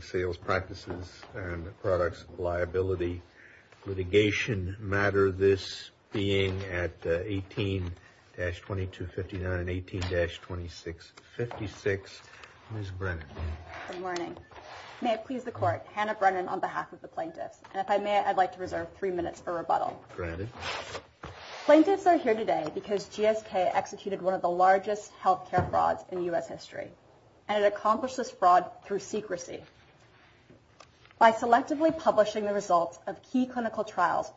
Sales Practices and Products Liability Litigation Matter, this being at 18-2259, 18-2656, Ms. Brennan. Good morning. May it please the Court, Hannah Brennan on behalf of the plaintiffs. And if I may, I'd like to reserve three minutes for rebuttal. Granted. Plaintiffs are here today because GSK executed one of the largest healthcare frauds in U.S. history. And it accomplished this fraud through secrecy. By selectively publishing the results of key clinical trials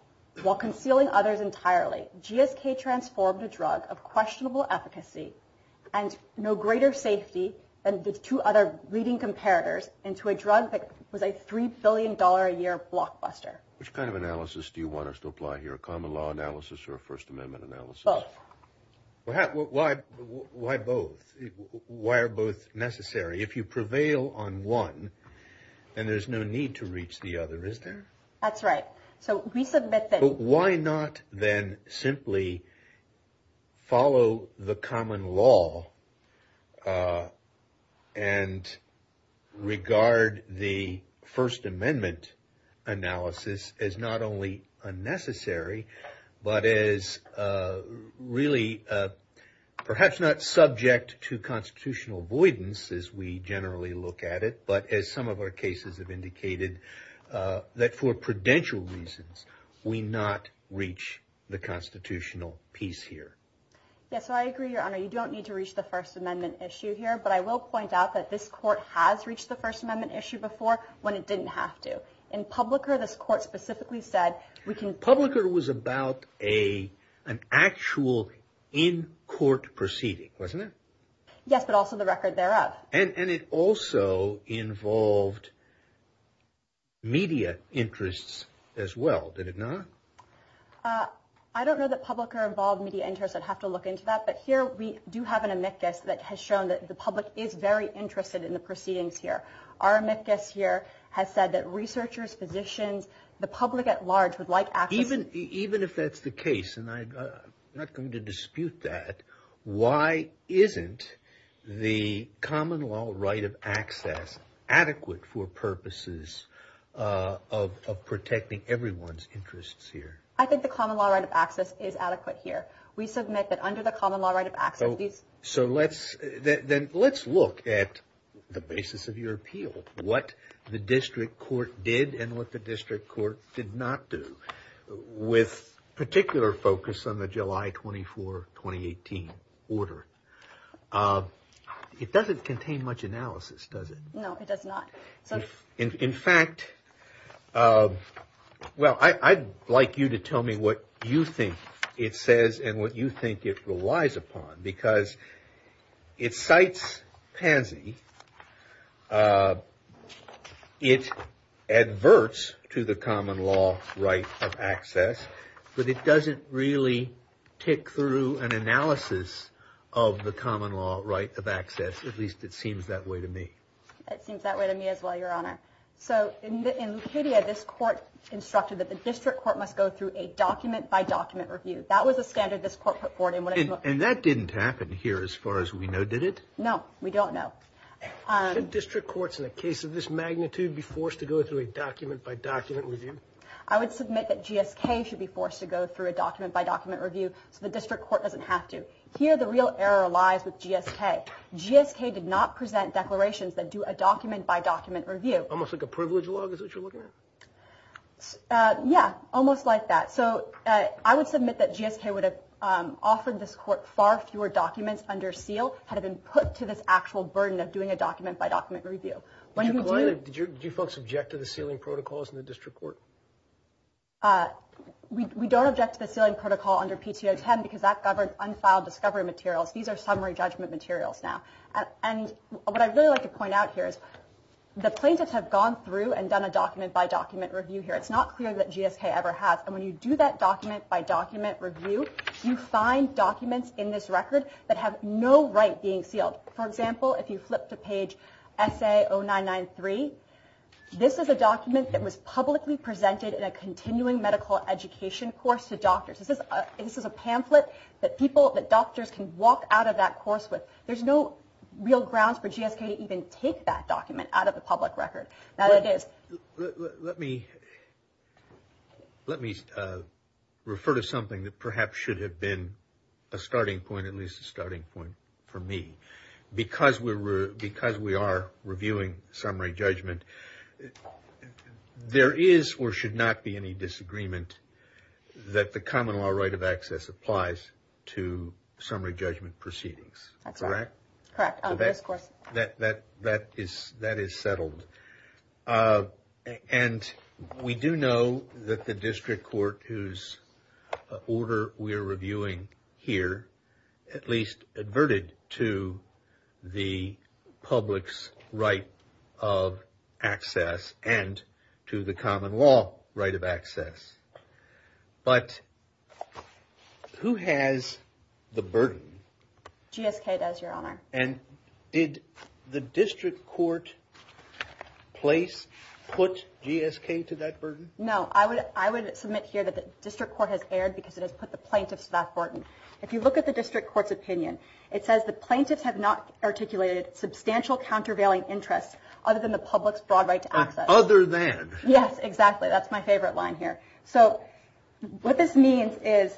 while concealing others entirely, GSK transformed a drug of questionable efficacy and no greater safety than the two other leading comparators into a drug that was a $3 billion a year blockbuster. Which kind of analysis do you want us to apply here, a common law analysis or a First Amendment analysis? Both. Why both? Why are both necessary? If you prevail on one, then there's no need to reach the other, is there? That's right. So we submit that... as not only unnecessary, but as really perhaps not subject to constitutional avoidance as we generally look at it. But as some of our cases have indicated, that for prudential reasons, we not reach the constitutional piece here. Yes, I agree, Your Honor. You don't need to reach the First Amendment issue here. But I will point out that this Court has reached the First Amendment issue before when it didn't have to. In Publicker, this Court specifically said we can... Publicker was about an actual in-court proceeding, wasn't it? Yes, but also the record thereof. And it also involved media interests as well, did it not? I don't know that Publicker involved media interests. I'd have to look into that. But here we do have an amicus that has shown that the public is very interested in the proceedings here. Our amicus here has said that researchers, physicians, the public at large would like access... Even if that's the case, and I'm not going to dispute that, why isn't the common law right of access adequate for purposes of protecting everyone's interests here? I think the common law right of access is adequate here. We submit that under the common law right of access, these... So let's look at the basis of your appeal. What the District Court did and what the District Court did not do. With particular focus on the July 24, 2018 order. It doesn't contain much analysis, does it? No, it does not. In fact, I'd like you to tell me what you think it says and what you think it relies upon. Because it cites Pansy. It adverts to the common law right of access. But it doesn't really tick through an analysis of the common law right of access. At least it seems that way to me. It seems that way to me as well, Your Honor. So in Lucidia, this court instructed that the District Court must go through a document-by-document review. That was a standard this court put forward. And that didn't happen here as far as we know, did it? No, we don't know. Should District Courts in a case of this magnitude be forced to go through a document-by-document review? I would submit that GSK should be forced to go through a document-by-document review so the District Court doesn't have to. Here the real error lies with GSK. GSK did not present declarations that do a document-by-document review. Almost like a privilege law is what you're looking at? Yeah, almost like that. So I would submit that GSK would have offered this court far fewer documents under seal had it been put to this actual burden of doing a document-by-document review. Did you folks object to the sealing protocols in the District Court? We don't object to the sealing protocol under PTO 10 because that governed unfiled discovery materials. These are summary judgment materials now. And what I'd really like to point out here is the plaintiffs have gone through and done a document-by-document review here. It's not clear that GSK ever has. And when you do that document-by-document review, you find documents in this record that have no right being sealed. For example, if you flip to page SA 0993, this is a document that was publicly presented in a continuing medical education course to doctors. This is a pamphlet that doctors can walk out of that course with. There's no real grounds for GSK to even take that document out of the public record. That it is. Let me refer to something that perhaps should have been a starting point, at least a starting point for me. Because we are reviewing summary judgment, there is or should not be any disagreement that the common law right of access applies to summary judgment proceedings. Correct? Correct. That is settled. And we do know that the district court, whose order we are reviewing here, at least adverted to the public's right of access and to the common law right of access. But who has the burden? GSK does, Your Honor. And did the district court place, put GSK to that burden? No. I would submit here that the district court has erred because it has put the plaintiffs to that burden. If you look at the district court's opinion, it says the plaintiffs have not articulated substantial countervailing interests other than the public's broad right to access. Other than. Yes, exactly. That's my favorite line here. So what this means is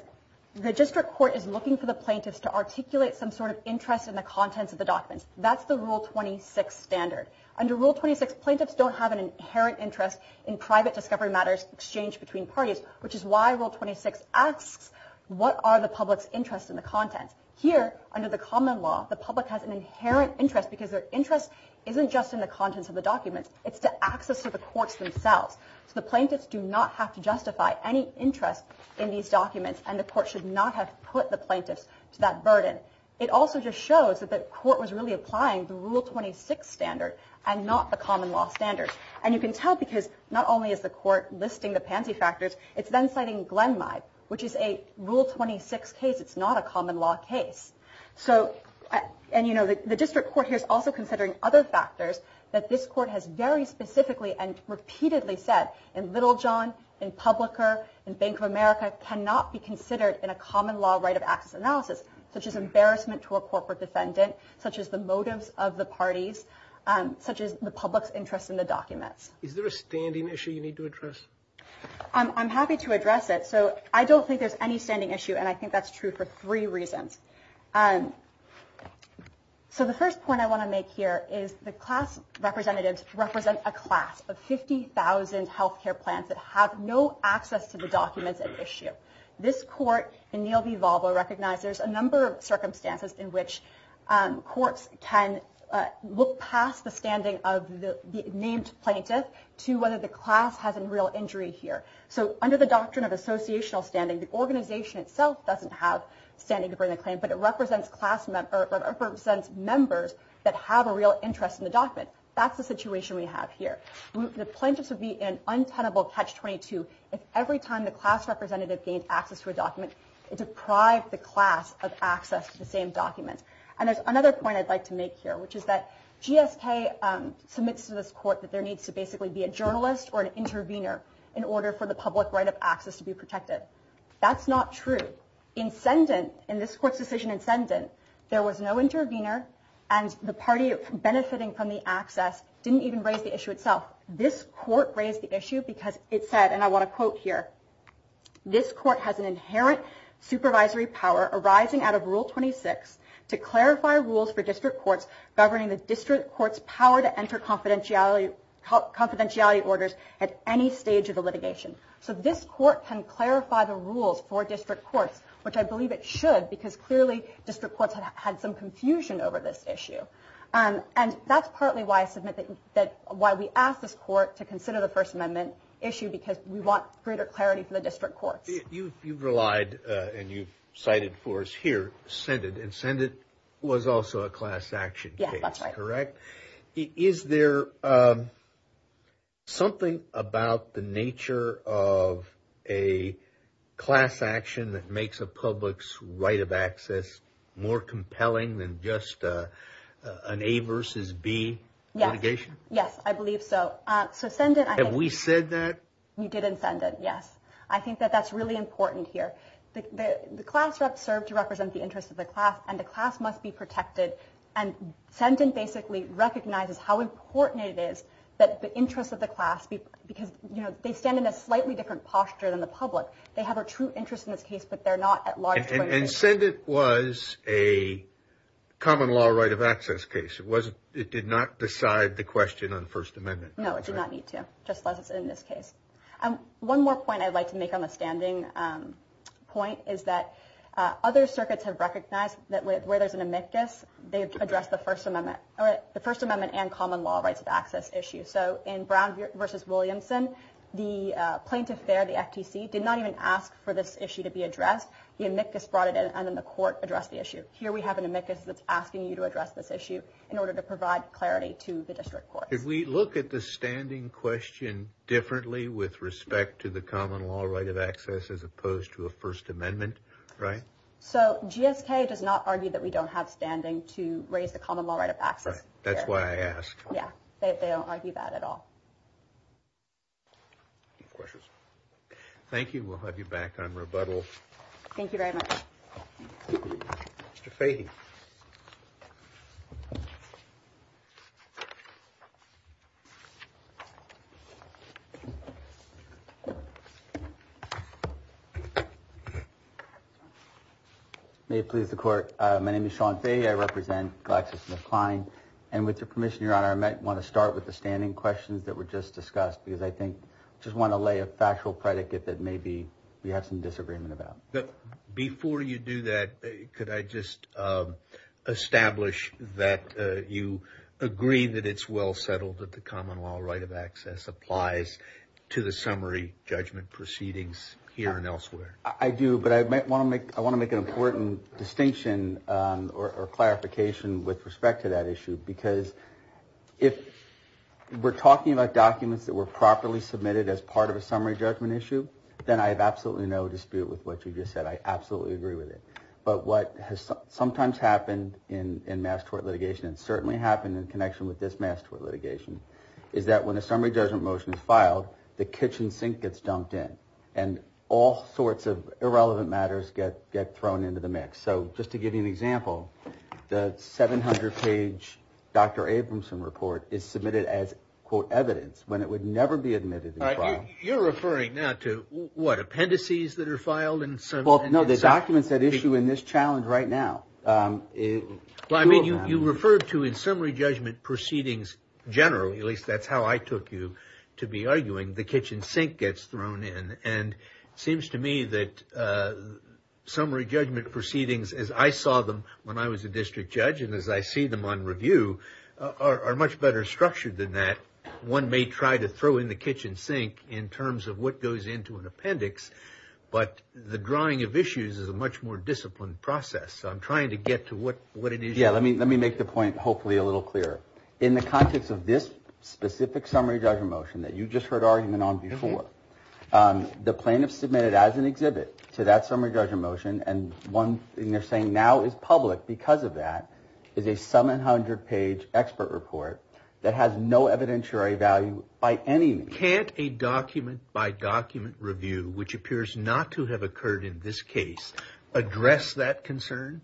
the district court is looking for the plaintiffs to articulate some sort of interest in the contents of the documents. That's the Rule 26 standard. Under Rule 26, plaintiffs don't have an inherent interest in private discovery matters exchanged between parties, which is why Rule 26 asks what are the public's interests in the contents. Here, under the common law, the public has an inherent interest because their interest isn't just in the contents of the documents, it's to access to the courts themselves. So the plaintiffs do not have to justify any interest in these documents and the court should not have put the plaintiffs to that burden. It also just shows that the court was really applying the Rule 26 standard and not the common law standard. And you can tell because not only is the court listing the pansy factors, it's then citing Glenmai, which is a Rule 26 case. It's not a common law case. And the district court here is also considering other factors that this court has very specifically and repeatedly said in Littlejohn, in Publicker, in Bank of America, cannot be considered in a common law right of access analysis, such as embarrassment to a corporate defendant, such as the motives of the parties, such as the public's interest in the documents. Is there a standing issue you need to address? I'm happy to address it. So I don't think there's any standing issue, and I think that's true for three reasons. So the first point I want to make here is the class representatives represent a class of 50,000 health care plans that have no access to the documents at issue. This court in Neal v. Volvo recognized there's a number of circumstances in which courts can look past the standing of the named plaintiff to whether the class has a real injury here. So under the doctrine of associational standing, the organization itself doesn't have standing to bring a claim, but it represents members that have a real interest in the document. That's the situation we have here. The plaintiffs would be in untenable catch-22 if every time the class representative gained access to a document, it deprived the class of access to the same document. And there's another point I'd like to make here, which is that GSK submits to this court that there needs to basically be a journalist or an intervener in order for the public right of access to be protected. That's not true. In this court's decision, incendent, there was no intervener, and the party benefiting from the access didn't even raise the issue itself. This court raised the issue because it said, and I want to quote here, this court has an inherent supervisory power arising out of Rule 26 to clarify rules for district courts governing the district court's power to enter confidentiality orders at any stage of the litigation. So this court can clarify the rules for district courts, which I believe it should, because clearly district courts had some confusion over this issue. And that's partly why I submit that, why we asked this court to consider the First Amendment issue because we want greater clarity for the district courts. You've relied, and you've cited for us here, incendent, and incendent was also a class action case, correct? Yeah, that's right. Is there something about the nature of a class action that makes a public's right of access more compelling than just an A versus B litigation? Yes, I believe so. Have we said that? You did incendent, yes. I think that that's really important here. The class reps serve to represent the interests of the class, and the class must be protected. And incendent basically recognizes how important it is that the interests of the class, because they stand in a slightly different posture than the public. They have a true interest in this case, but they're not at large. Incendent was a common law right of access case. It did not decide the question on the First Amendment. No, it did not need to, just as in this case. One more point I'd like to make on the standing point is that other circuits have recognized that where there's an amicus, they address the First Amendment and common law rights of access issue. So in Brown v. Williamson, the plaintiff there, the FTC, did not even ask for this issue to be addressed. The amicus brought it in, and then the court addressed the issue. Here we have an amicus that's asking you to address this issue in order to provide clarity to the district courts. Did we look at the standing question differently with respect to the common law right of access as opposed to a First Amendment, right? So GSK does not argue that we don't have standing to raise the common law right of access. That's why I asked. Yeah, they don't argue that at all. Any questions? Thank you. We'll have you back on rebuttal. Thank you very much. Mr. Fahy. May it please the court. My name is Sean Fahy. I represent GlaxoSmithKline. And with your permission, Your Honor, I might want to start with the standing questions that were just discussed, because I think I just want to lay a factual predicate that maybe we have some disagreement about. Before you do that, could I just establish that you agree that it's well settled that the common law right of access applies to the summary judgment proceedings here and elsewhere? I do, but I want to make an important distinction or clarification with respect to that issue, because if we're talking about documents that were properly submitted as part of a summary judgment issue, then I have absolutely no dispute with what you just said. I absolutely agree with it. But what has sometimes happened in mass tort litigation and certainly happened in connection with this mass tort litigation is that when a summary judgment motion is filed, the kitchen sink gets dumped in, and all sorts of irrelevant matters get thrown into the mix. So just to give you an example, the 700-page Dr. Abramson report is submitted as, quote, evidence, when it would never be admitted and filed. You're referring now to what, appendices that are filed? No, the documents that issue in this challenge right now. You referred to in summary judgment proceedings generally, at least that's how I took you to be arguing, the kitchen sink gets thrown in, and it seems to me that summary judgment proceedings, as I saw them when I was a district judge and as I see them on review, are much better structured than that. One may try to throw in the kitchen sink in terms of what goes into an appendix, but the drawing of issues is a much more disciplined process. So I'm trying to get to what it is. Yeah, let me make the point hopefully a little clearer. In the context of this specific summary judgment motion that you just heard argument on before, the plaintiff submitted as an exhibit to that summary judgment motion, and one thing they're saying now is public because of that, is a 700-page expert report that has no evidentiary value by any means. Can't a document-by-document review, which appears not to have occurred in this case, address that concern?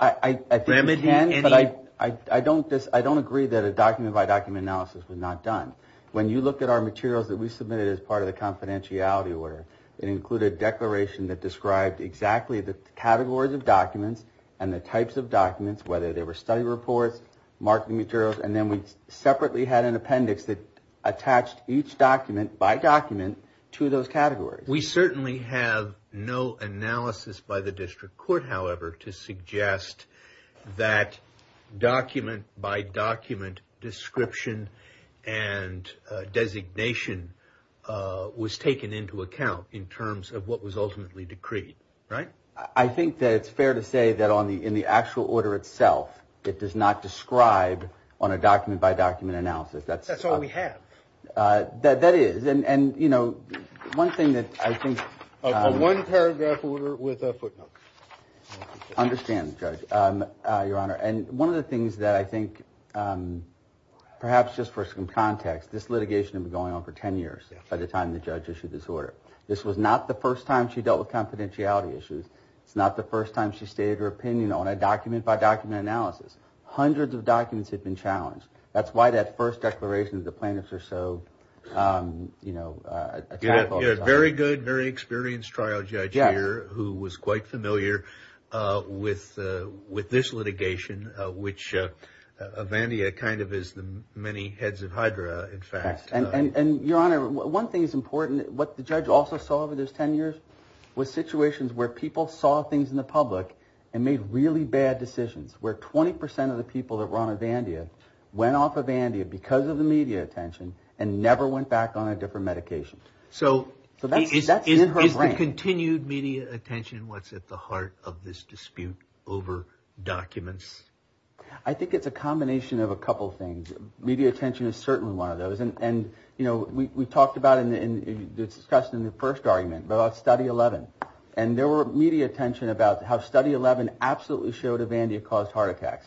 I think it can, but I don't agree that a document-by-document analysis was not done. When you look at our materials that we submitted as part of the confidentiality order, it included a declaration that described exactly the categories of documents and the types of documents, whether they were study reports, marketing materials, and then we separately had an appendix that attached each document by document to those categories. We certainly have no analysis by the district court, however, to suggest that document-by-document description and designation was taken into account in terms of what was ultimately decreed, right? I think that it's fair to say that in the actual order itself, it does not describe on a document-by-document analysis. That's all we have. That is, and one thing that I think... A one-paragraph order with a footnote. I understand, Judge, Your Honor, and one of the things that I think, perhaps just for some context, this litigation had been going on for 10 years by the time the judge issued this order. This was not the first time she dealt with confidentiality issues. It's not the first time she stated her opinion on a document-by-document analysis. Hundreds of documents had been challenged. That's why that first declaration, the plaintiffs are so, you know... You have a very good, very experienced trial judge here who was quite familiar with this litigation, which Avandia kind of is the many heads of Hydra, in fact. And, Your Honor, one thing that's important, what the judge also saw over those 10 years was situations where people saw things in the public and made really bad decisions, where 20% of the people that were on Avandia went off Avandia because of the media attention and never went back on a different medication. So that's in her brain. Is the continued media attention what's at the heart of this dispute over documents? I think it's a combination of a couple things. Media attention is certainly one of those. And, you know, we talked about and discussed in the first argument about Study 11. And there were media attention about how Study 11 absolutely showed Avandia caused heart attacks.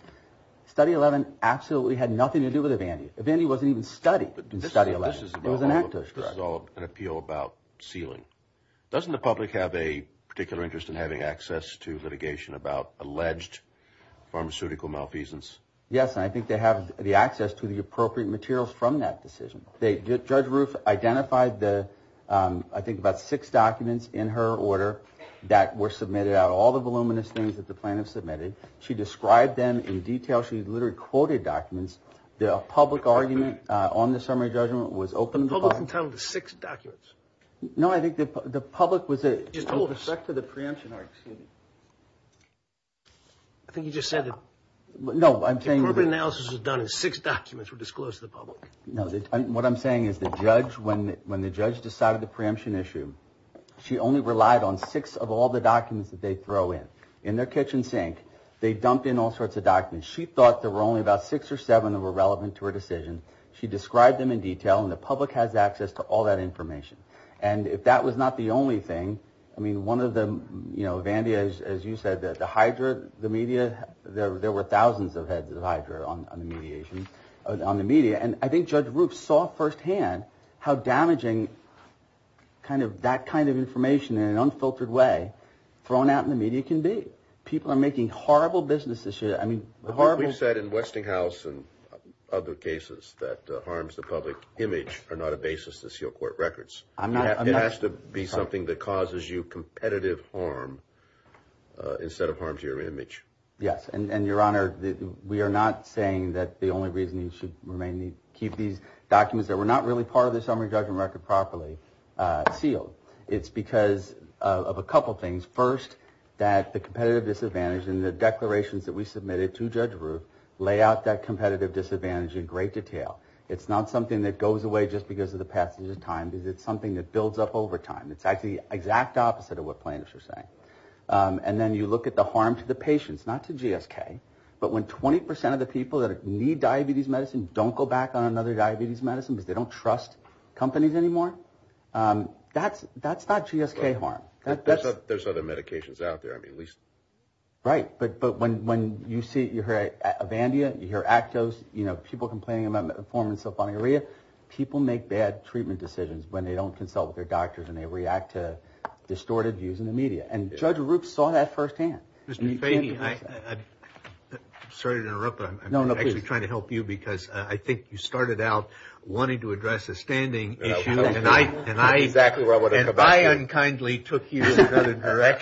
Study 11 absolutely had nothing to do with Avandia. Avandia wasn't even studied in Study 11. This is all an appeal about sealing. Doesn't the public have a particular interest in having access to litigation about alleged pharmaceutical malfeasance? Yes, and I think they have the access to the appropriate materials from that decision. Judge Roof identified, I think, about six documents in her order that were submitted out of all the voluminous things that the plaintiff submitted. She described them in detail. She literally quoted documents. The public argument on the summary judgment was open... The public entitled to six documents? No, I think the public was... She just told us. With respect to the preemption... I think you just said that... No, I'm saying... The appropriate analysis was done in six documents were disclosed to the public. No, what I'm saying is the judge, when the judge decided the preemption issue, she only relied on six of all the documents that they throw in. In their kitchen sink, they dumped in all sorts of documents. And she thought there were only about six or seven that were relevant to her decision. She described them in detail, and the public has access to all that information. And if that was not the only thing... I mean, one of the... Vandia, as you said, the Hydra, the media... There were thousands of heads of Hydra on the media. And I think Judge Roof saw firsthand how damaging that kind of information in an unfiltered way thrown out in the media can be. People are making horrible businesses. I mean, horrible... But we've said in Westinghouse and other cases that harms the public image are not a basis to seal court records. It has to be something that causes you competitive harm instead of harm to your image. Yes, and, Your Honor, we are not saying that the only reason you should remain... keep these documents that were not really part of the summary judgment record properly sealed. It's because of a couple things. First, that the competitive disadvantage in the declarations that we submitted to Judge Roof lay out that competitive disadvantage in great detail. It's not something that goes away just because of the passage of time. It's something that builds up over time. It's actually the exact opposite of what plaintiffs are saying. And then you look at the harm to the patients, not to GSK. But when 20% of the people that need diabetes medicine don't go back on another diabetes medicine because they don't trust companies anymore, that's not GSK harm. There's other medications out there, I mean, at least... Right, but when you see... you hear Avandia, you hear Actos, you know, people complaining about metformin and sulfonylurea, people make bad treatment decisions when they don't consult with their doctors and they react to distorted views in the media. And Judge Roof saw that firsthand. Mr. Fahey, I... Sorry to interrupt, but I'm actually trying to help you because I think you started out wanting to address a standing issue, and I... I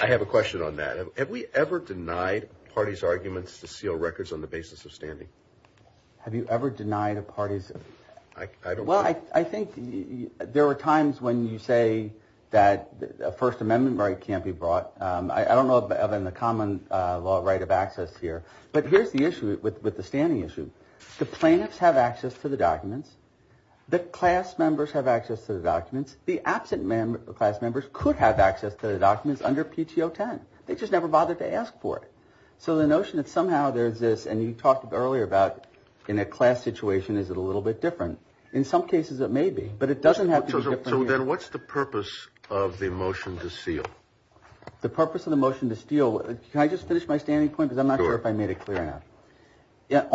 have a question on that. Have we ever denied parties' arguments to seal records on the basis of standing? Have you ever denied a party's... Well, I think there were times when you say that a First Amendment right can't be brought. I don't know of a common law right of access here. But here's the issue with the standing issue. Do class members have access to the documents? The absent class members could have access to the documents under PTO 10. They just never bothered to ask for it. So the notion that somehow there's this... And you talked earlier about in a class situation, is it a little bit different? In some cases, it may be, but it doesn't have to be... So then what's the purpose of the motion to seal? The purpose of the motion to seal... Can I just finish my standing point? Because I'm not sure if I made it clear enough.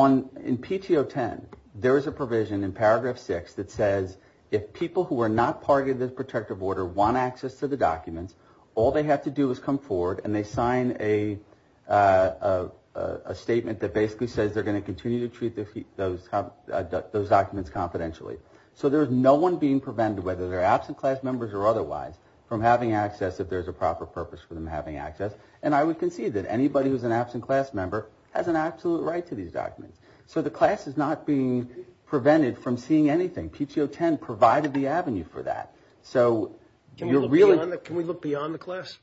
In PTO 10, there is a provision in paragraph 6 that says if people who are not part of the protective order want access to the documents, all they have to do is come forward and they sign a statement that basically says they're going to continue to treat those documents confidentially. So there's no one being prevented, whether they're absent class members or otherwise, from having access if there's a proper purpose for them having access. And I would concede that anybody who's an absent class member has an absolute right to these documents. So the class is not being prevented from seeing anything. PTO 10 provided the avenue for that. So you're really... Can we look beyond the class?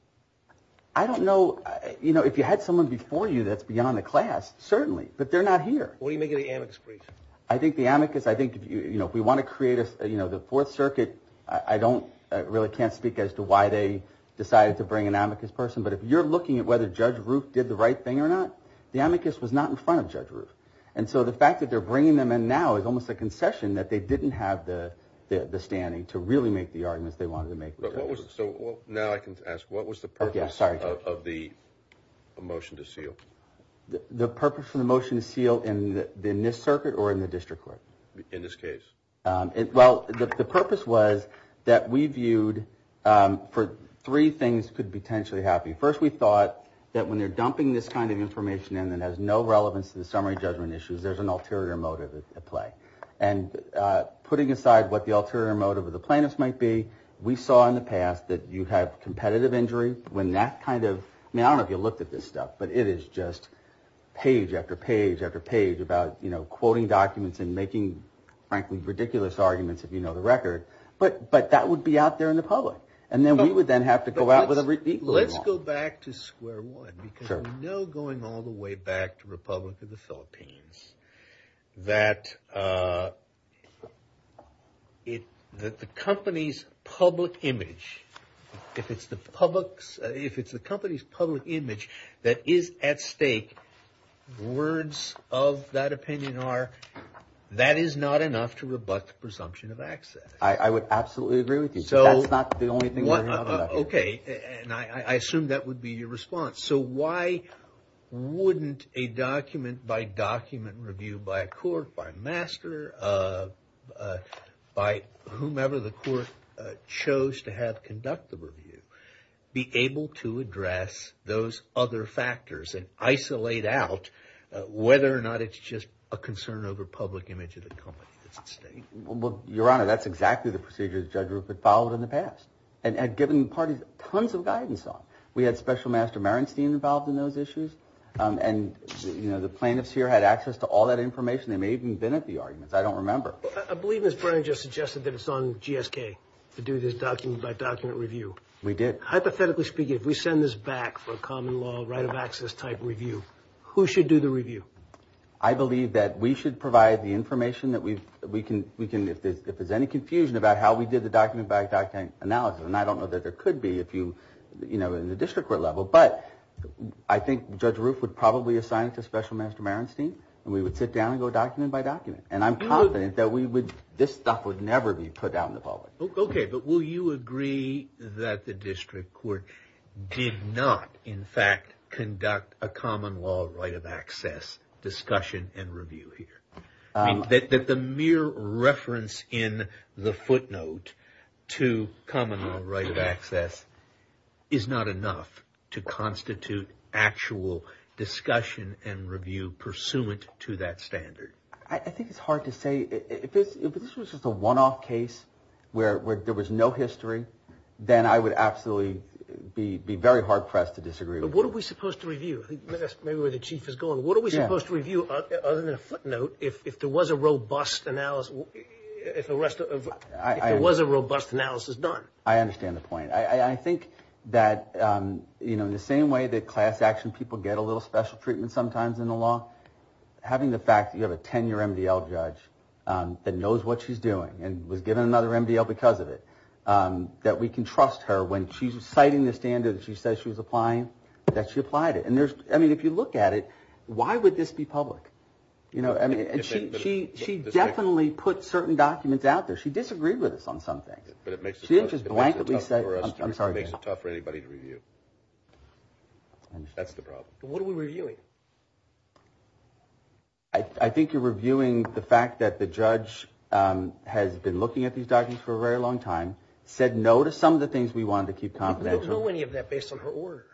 I don't know. If you had someone before you that's beyond the class, certainly. But they're not here. What do you make of the amicus brief? I think the amicus... If we want to create the Fourth Circuit, I really can't speak as to why they decided to bring an amicus person, but if you're looking at whether Judge Roof did the right thing or not, the amicus was not in front of Judge Roof. And so the fact that they're bringing them in now is almost a concession that they didn't have the standing to really make the arguments they wanted to make with Judge Roof. So now I can ask, what was the purpose of the motion to seal? The purpose of the motion to seal in this circuit or in the District Court? In this case. Well, the purpose was that we viewed for three things could potentially happen. First, we thought that when they're dumping this kind of information in that has no relevance to the summary judgment issues, there's an ulterior motive at play. And putting aside what the ulterior motive of the plaintiff might be, we saw in the past that you have competitive injury when that kind of... I mean, I don't know if you looked at this stuff, but it is just page after page after page about, you know, quoting documents and making, frankly, ridiculous arguments, if you know the record. But that would be out there in the public. And then we would then have to go out with an equal amount. Let's go back to square one. Because we know going all the way back to Republic of the Philippines that the company's public image, if it's the company's public image that is at stake, words of that opinion are, that is not enough to rebut the presumption of access. I would absolutely agree with you. That's not the only thing we're hearing about. Okay. And I assume that would be your response. So why wouldn't a document-by-document review by a court, by a master, by whomever the court chose to have conduct the review, be able to address those other factors and isolate out whether or not it's just a concern over public image of the company that's at stake? Well, Your Honor, that's exactly the procedure that Judge Rupert followed in the past and had given parties tons of guidance on. We had Special Master Merenstein involved in those issues, and the plaintiffs here had access to all that information. They may even have been at the arguments. I don't remember. I believe Ms. Brennan just suggested that it's on GSK to do this document-by-document review. We did. Hypothetically speaking, if we send this back for a common law right-of-access type review, who should do the review? I believe that we should provide the information that we can, if there's any confusion about how we did the document-by-document analysis, and I don't know that there could be in the district court level, but I think Judge Rupert would probably assign it to Special Master Merenstein, and we would sit down and go document-by-document. And I'm confident that this stuff would never be put out in the public. Okay. But will you agree that the district court did not, in fact, conduct a common law right-of-access discussion and review here? That the mere reference in the footnote to common law right-of-access is not enough to constitute actual discussion and review pursuant to that standard? I think it's hard to say. If this was just a one-off case where there was no history, then I would absolutely be very hard-pressed to disagree with you. What are we supposed to review? That's maybe where the Chief is going. What are we supposed to review other than a footnote if there was a robust analysis done? I understand the point. I think that in the same way that class action people get a little special treatment sometimes in the law, having the fact that you have a 10-year MDL judge that knows what she's doing and was given another MDL because of it, that we can trust her when she's citing the standard that she says she was applying, that she applied it. I mean, if you look at it, why would this be public? She definitely put certain documents out there. She disagreed with us on some things. She didn't just blankly say, I'm sorry. It makes it tough for anybody to review. That's the problem. What are we reviewing? I think you're reviewing the fact that the judge has been looking at these documents for a very long time, said no to some of the things we wanted to keep confidential. We don't know any of that based on her order.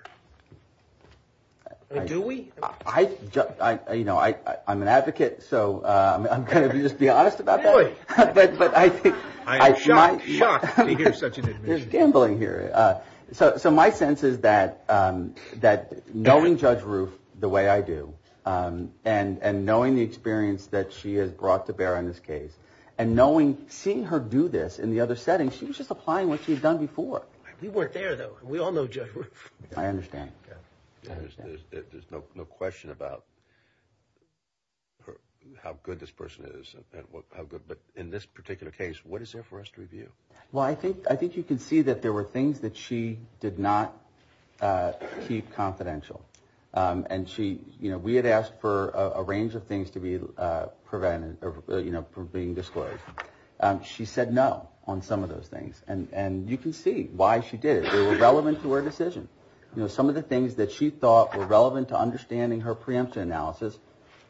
Do we? I'm an advocate, so I'm going to just be honest about that. Really? I'm shocked to hear such an admission. We're gambling here. So my sense is that knowing Judge Roof the way I do and knowing the experience that she has brought to bear on this case and seeing her do this in the other setting, she was just applying what she had done before. We weren't there, though. We all know Judge Roof. I understand. There's no question about how good this person is. But in this particular case, what is there for us to review? Well, I think you can see that there were things that she did not keep confidential. And we had asked for a range of things to be prevented from being disclosed. She said no on some of those things. And you can see why she did it. They were relevant to her decision. Some of the things that she thought were relevant to understanding her preemption analysis,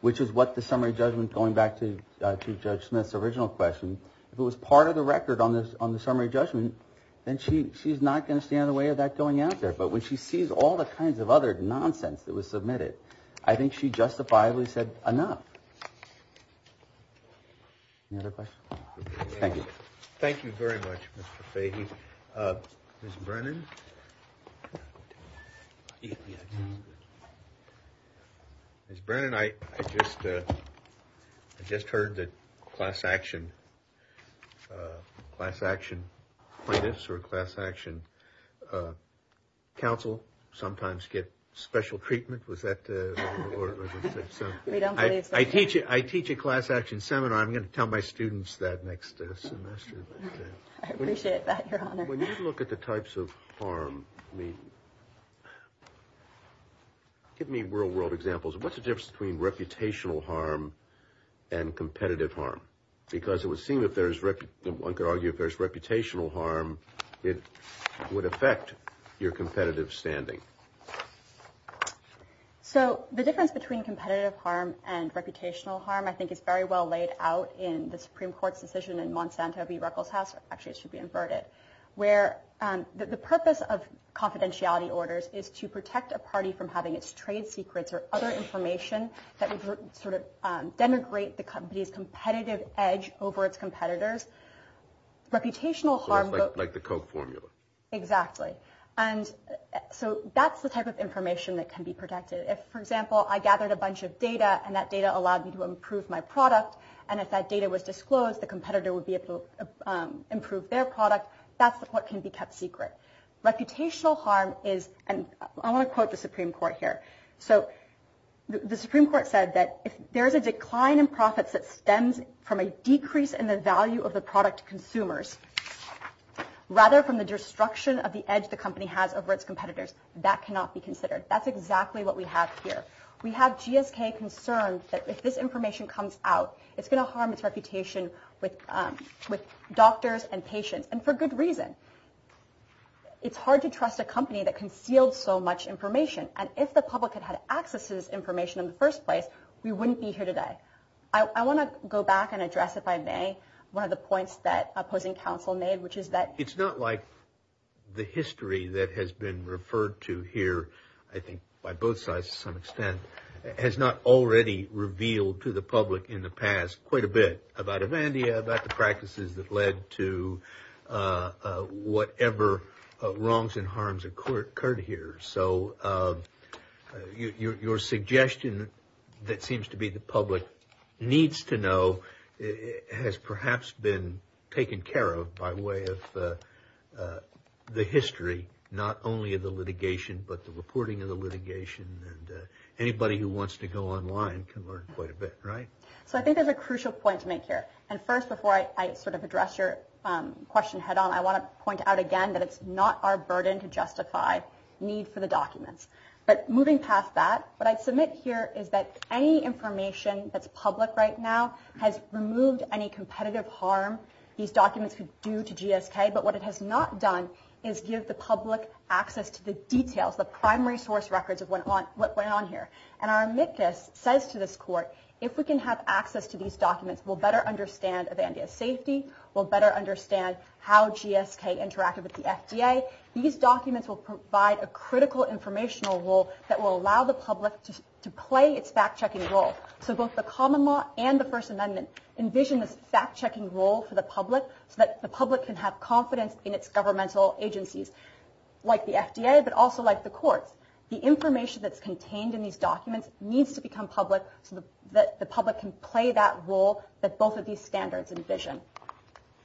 which is what the summary judgment, going back to Judge Smith's original question, if it was part of the record on the summary judgment, then she's not going to stand in the way of that going out there. But when she sees all the kinds of other nonsense that was submitted, I think she justifiably said enough. Any other questions? Thank you. Thank you very much, Mr. Fahey. Ms. Brennan? Ms. Brennan, I just heard that class action plaintiffs or class action counsel sometimes get special treatment. I teach a class action seminar. I'm going to tell my students that next semester. I appreciate that, Your Honor. When you look at the types of harm, give me real world examples. What's the difference between reputational harm and competitive harm? Because it would seem that one could argue if there's reputational harm, it would affect your competitive standing. So the difference between competitive harm and reputational harm I think is very well laid out in the Supreme Court's decision in Monsanto v. Ruckelshaus. Actually, it should be inverted. Where the purpose of confidentiality orders is to protect a party from having its trade secrets or other information that would sort of denigrate the company's competitive edge over its competitors. Reputational harm. So it's like the Coke formula. Exactly. And so that's the type of information that can be protected. If, for example, I gathered a bunch of data and that data allowed me to improve my product, and if that data was disclosed, the competitor would be able to improve their product, that's what can be kept secret. Reputational harm is, and I want to quote the Supreme Court here. So the Supreme Court said that if there's a decline in profits that stems from a decrease in the value of the product to consumers, rather from the destruction of the edge the company has over its competitors, that cannot be considered. That's exactly what we have here. We have GSK concerned that if this information comes out, it's going to harm its reputation with doctors and patients, and for good reason. It's hard to trust a company that concealed so much information. And if the public had had access to this information in the first place, we wouldn't be here today. I want to go back and address, if I may, one of the points that opposing counsel made, which is that it's not like the history that has been referred to here, I think by both sides to some extent, has not already revealed to the public in the past quite a bit about Evandia, about the practices that led to whatever wrongs and harms occurred here. So your suggestion that seems to be the public needs to know has perhaps been taken care of by way of the history, not only of the litigation, but the reporting of the litigation. Anybody who wants to go online can learn quite a bit, right? I think there's a crucial point to make here. First, before I address your question head on, I want to point out again that it's not our burden to justify need for the documents. But moving past that, what I'd submit here is that any information that's public right now has removed any competitive harm these documents could do to GSK. But what it has not done is give the public access to the details, the primary source records of what went on here. And our amicus says to this court, if we can have access to these documents, we'll better understand Evandia's safety, we'll better understand how GSK interacted with the FDA. These documents will provide a critical informational role that will allow the public to play its fact-checking role. So both the common law and the First Amendment envision this fact-checking role for the public so that the public can have confidence in its governmental agencies, like the FDA, but also like the courts. The information that's contained in these documents needs to become public so that the public can play that role that both of these standards envision.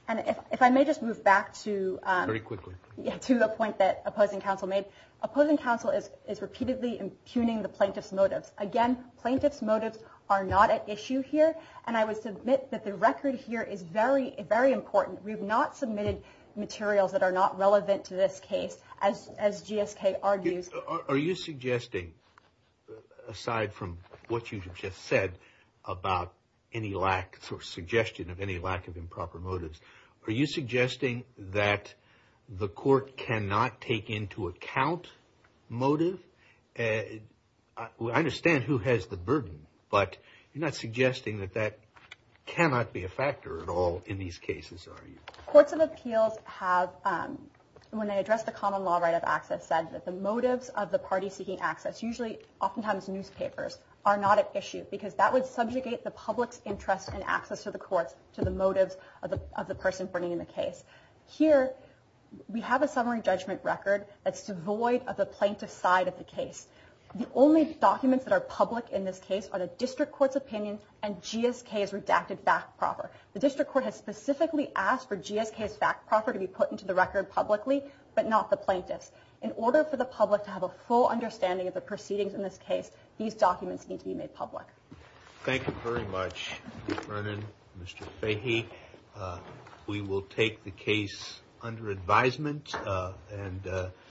And if I may just move back to the point that opposing counsel made. Opposing counsel is repeatedly impugning the plaintiff's motives. Again, plaintiff's motives are not at issue here, and I would submit that the record here is very important. We have not submitted materials that are not relevant to this case, as GSK argues. Are you suggesting, aside from what you just said about any lack or suggestion of any lack of improper motives, are you suggesting that the court cannot take into account motive? I understand who has the burden, but you're not suggesting that that cannot be a factor at all in these cases, are you? Courts of appeals have, when they address the common law right of access, said that the motives of the party seeking access, usually, oftentimes newspapers, are not at issue because that would subjugate the public's interest in access to the courts to the motives of the person bringing the case. Here, we have a summary judgment record that's devoid of the plaintiff's side of the case. The only documents that are public in this case are the district court's opinion and GSK's redacted back proper. The district court has specifically asked for GSK's back proper to be put into the record publicly, but not the plaintiff's. In order for the public to have a full understanding of the proceedings in this case, these documents need to be made public. Thank you very much, Mr. Vernon, Mr. Fahey. We will take the case under advisement.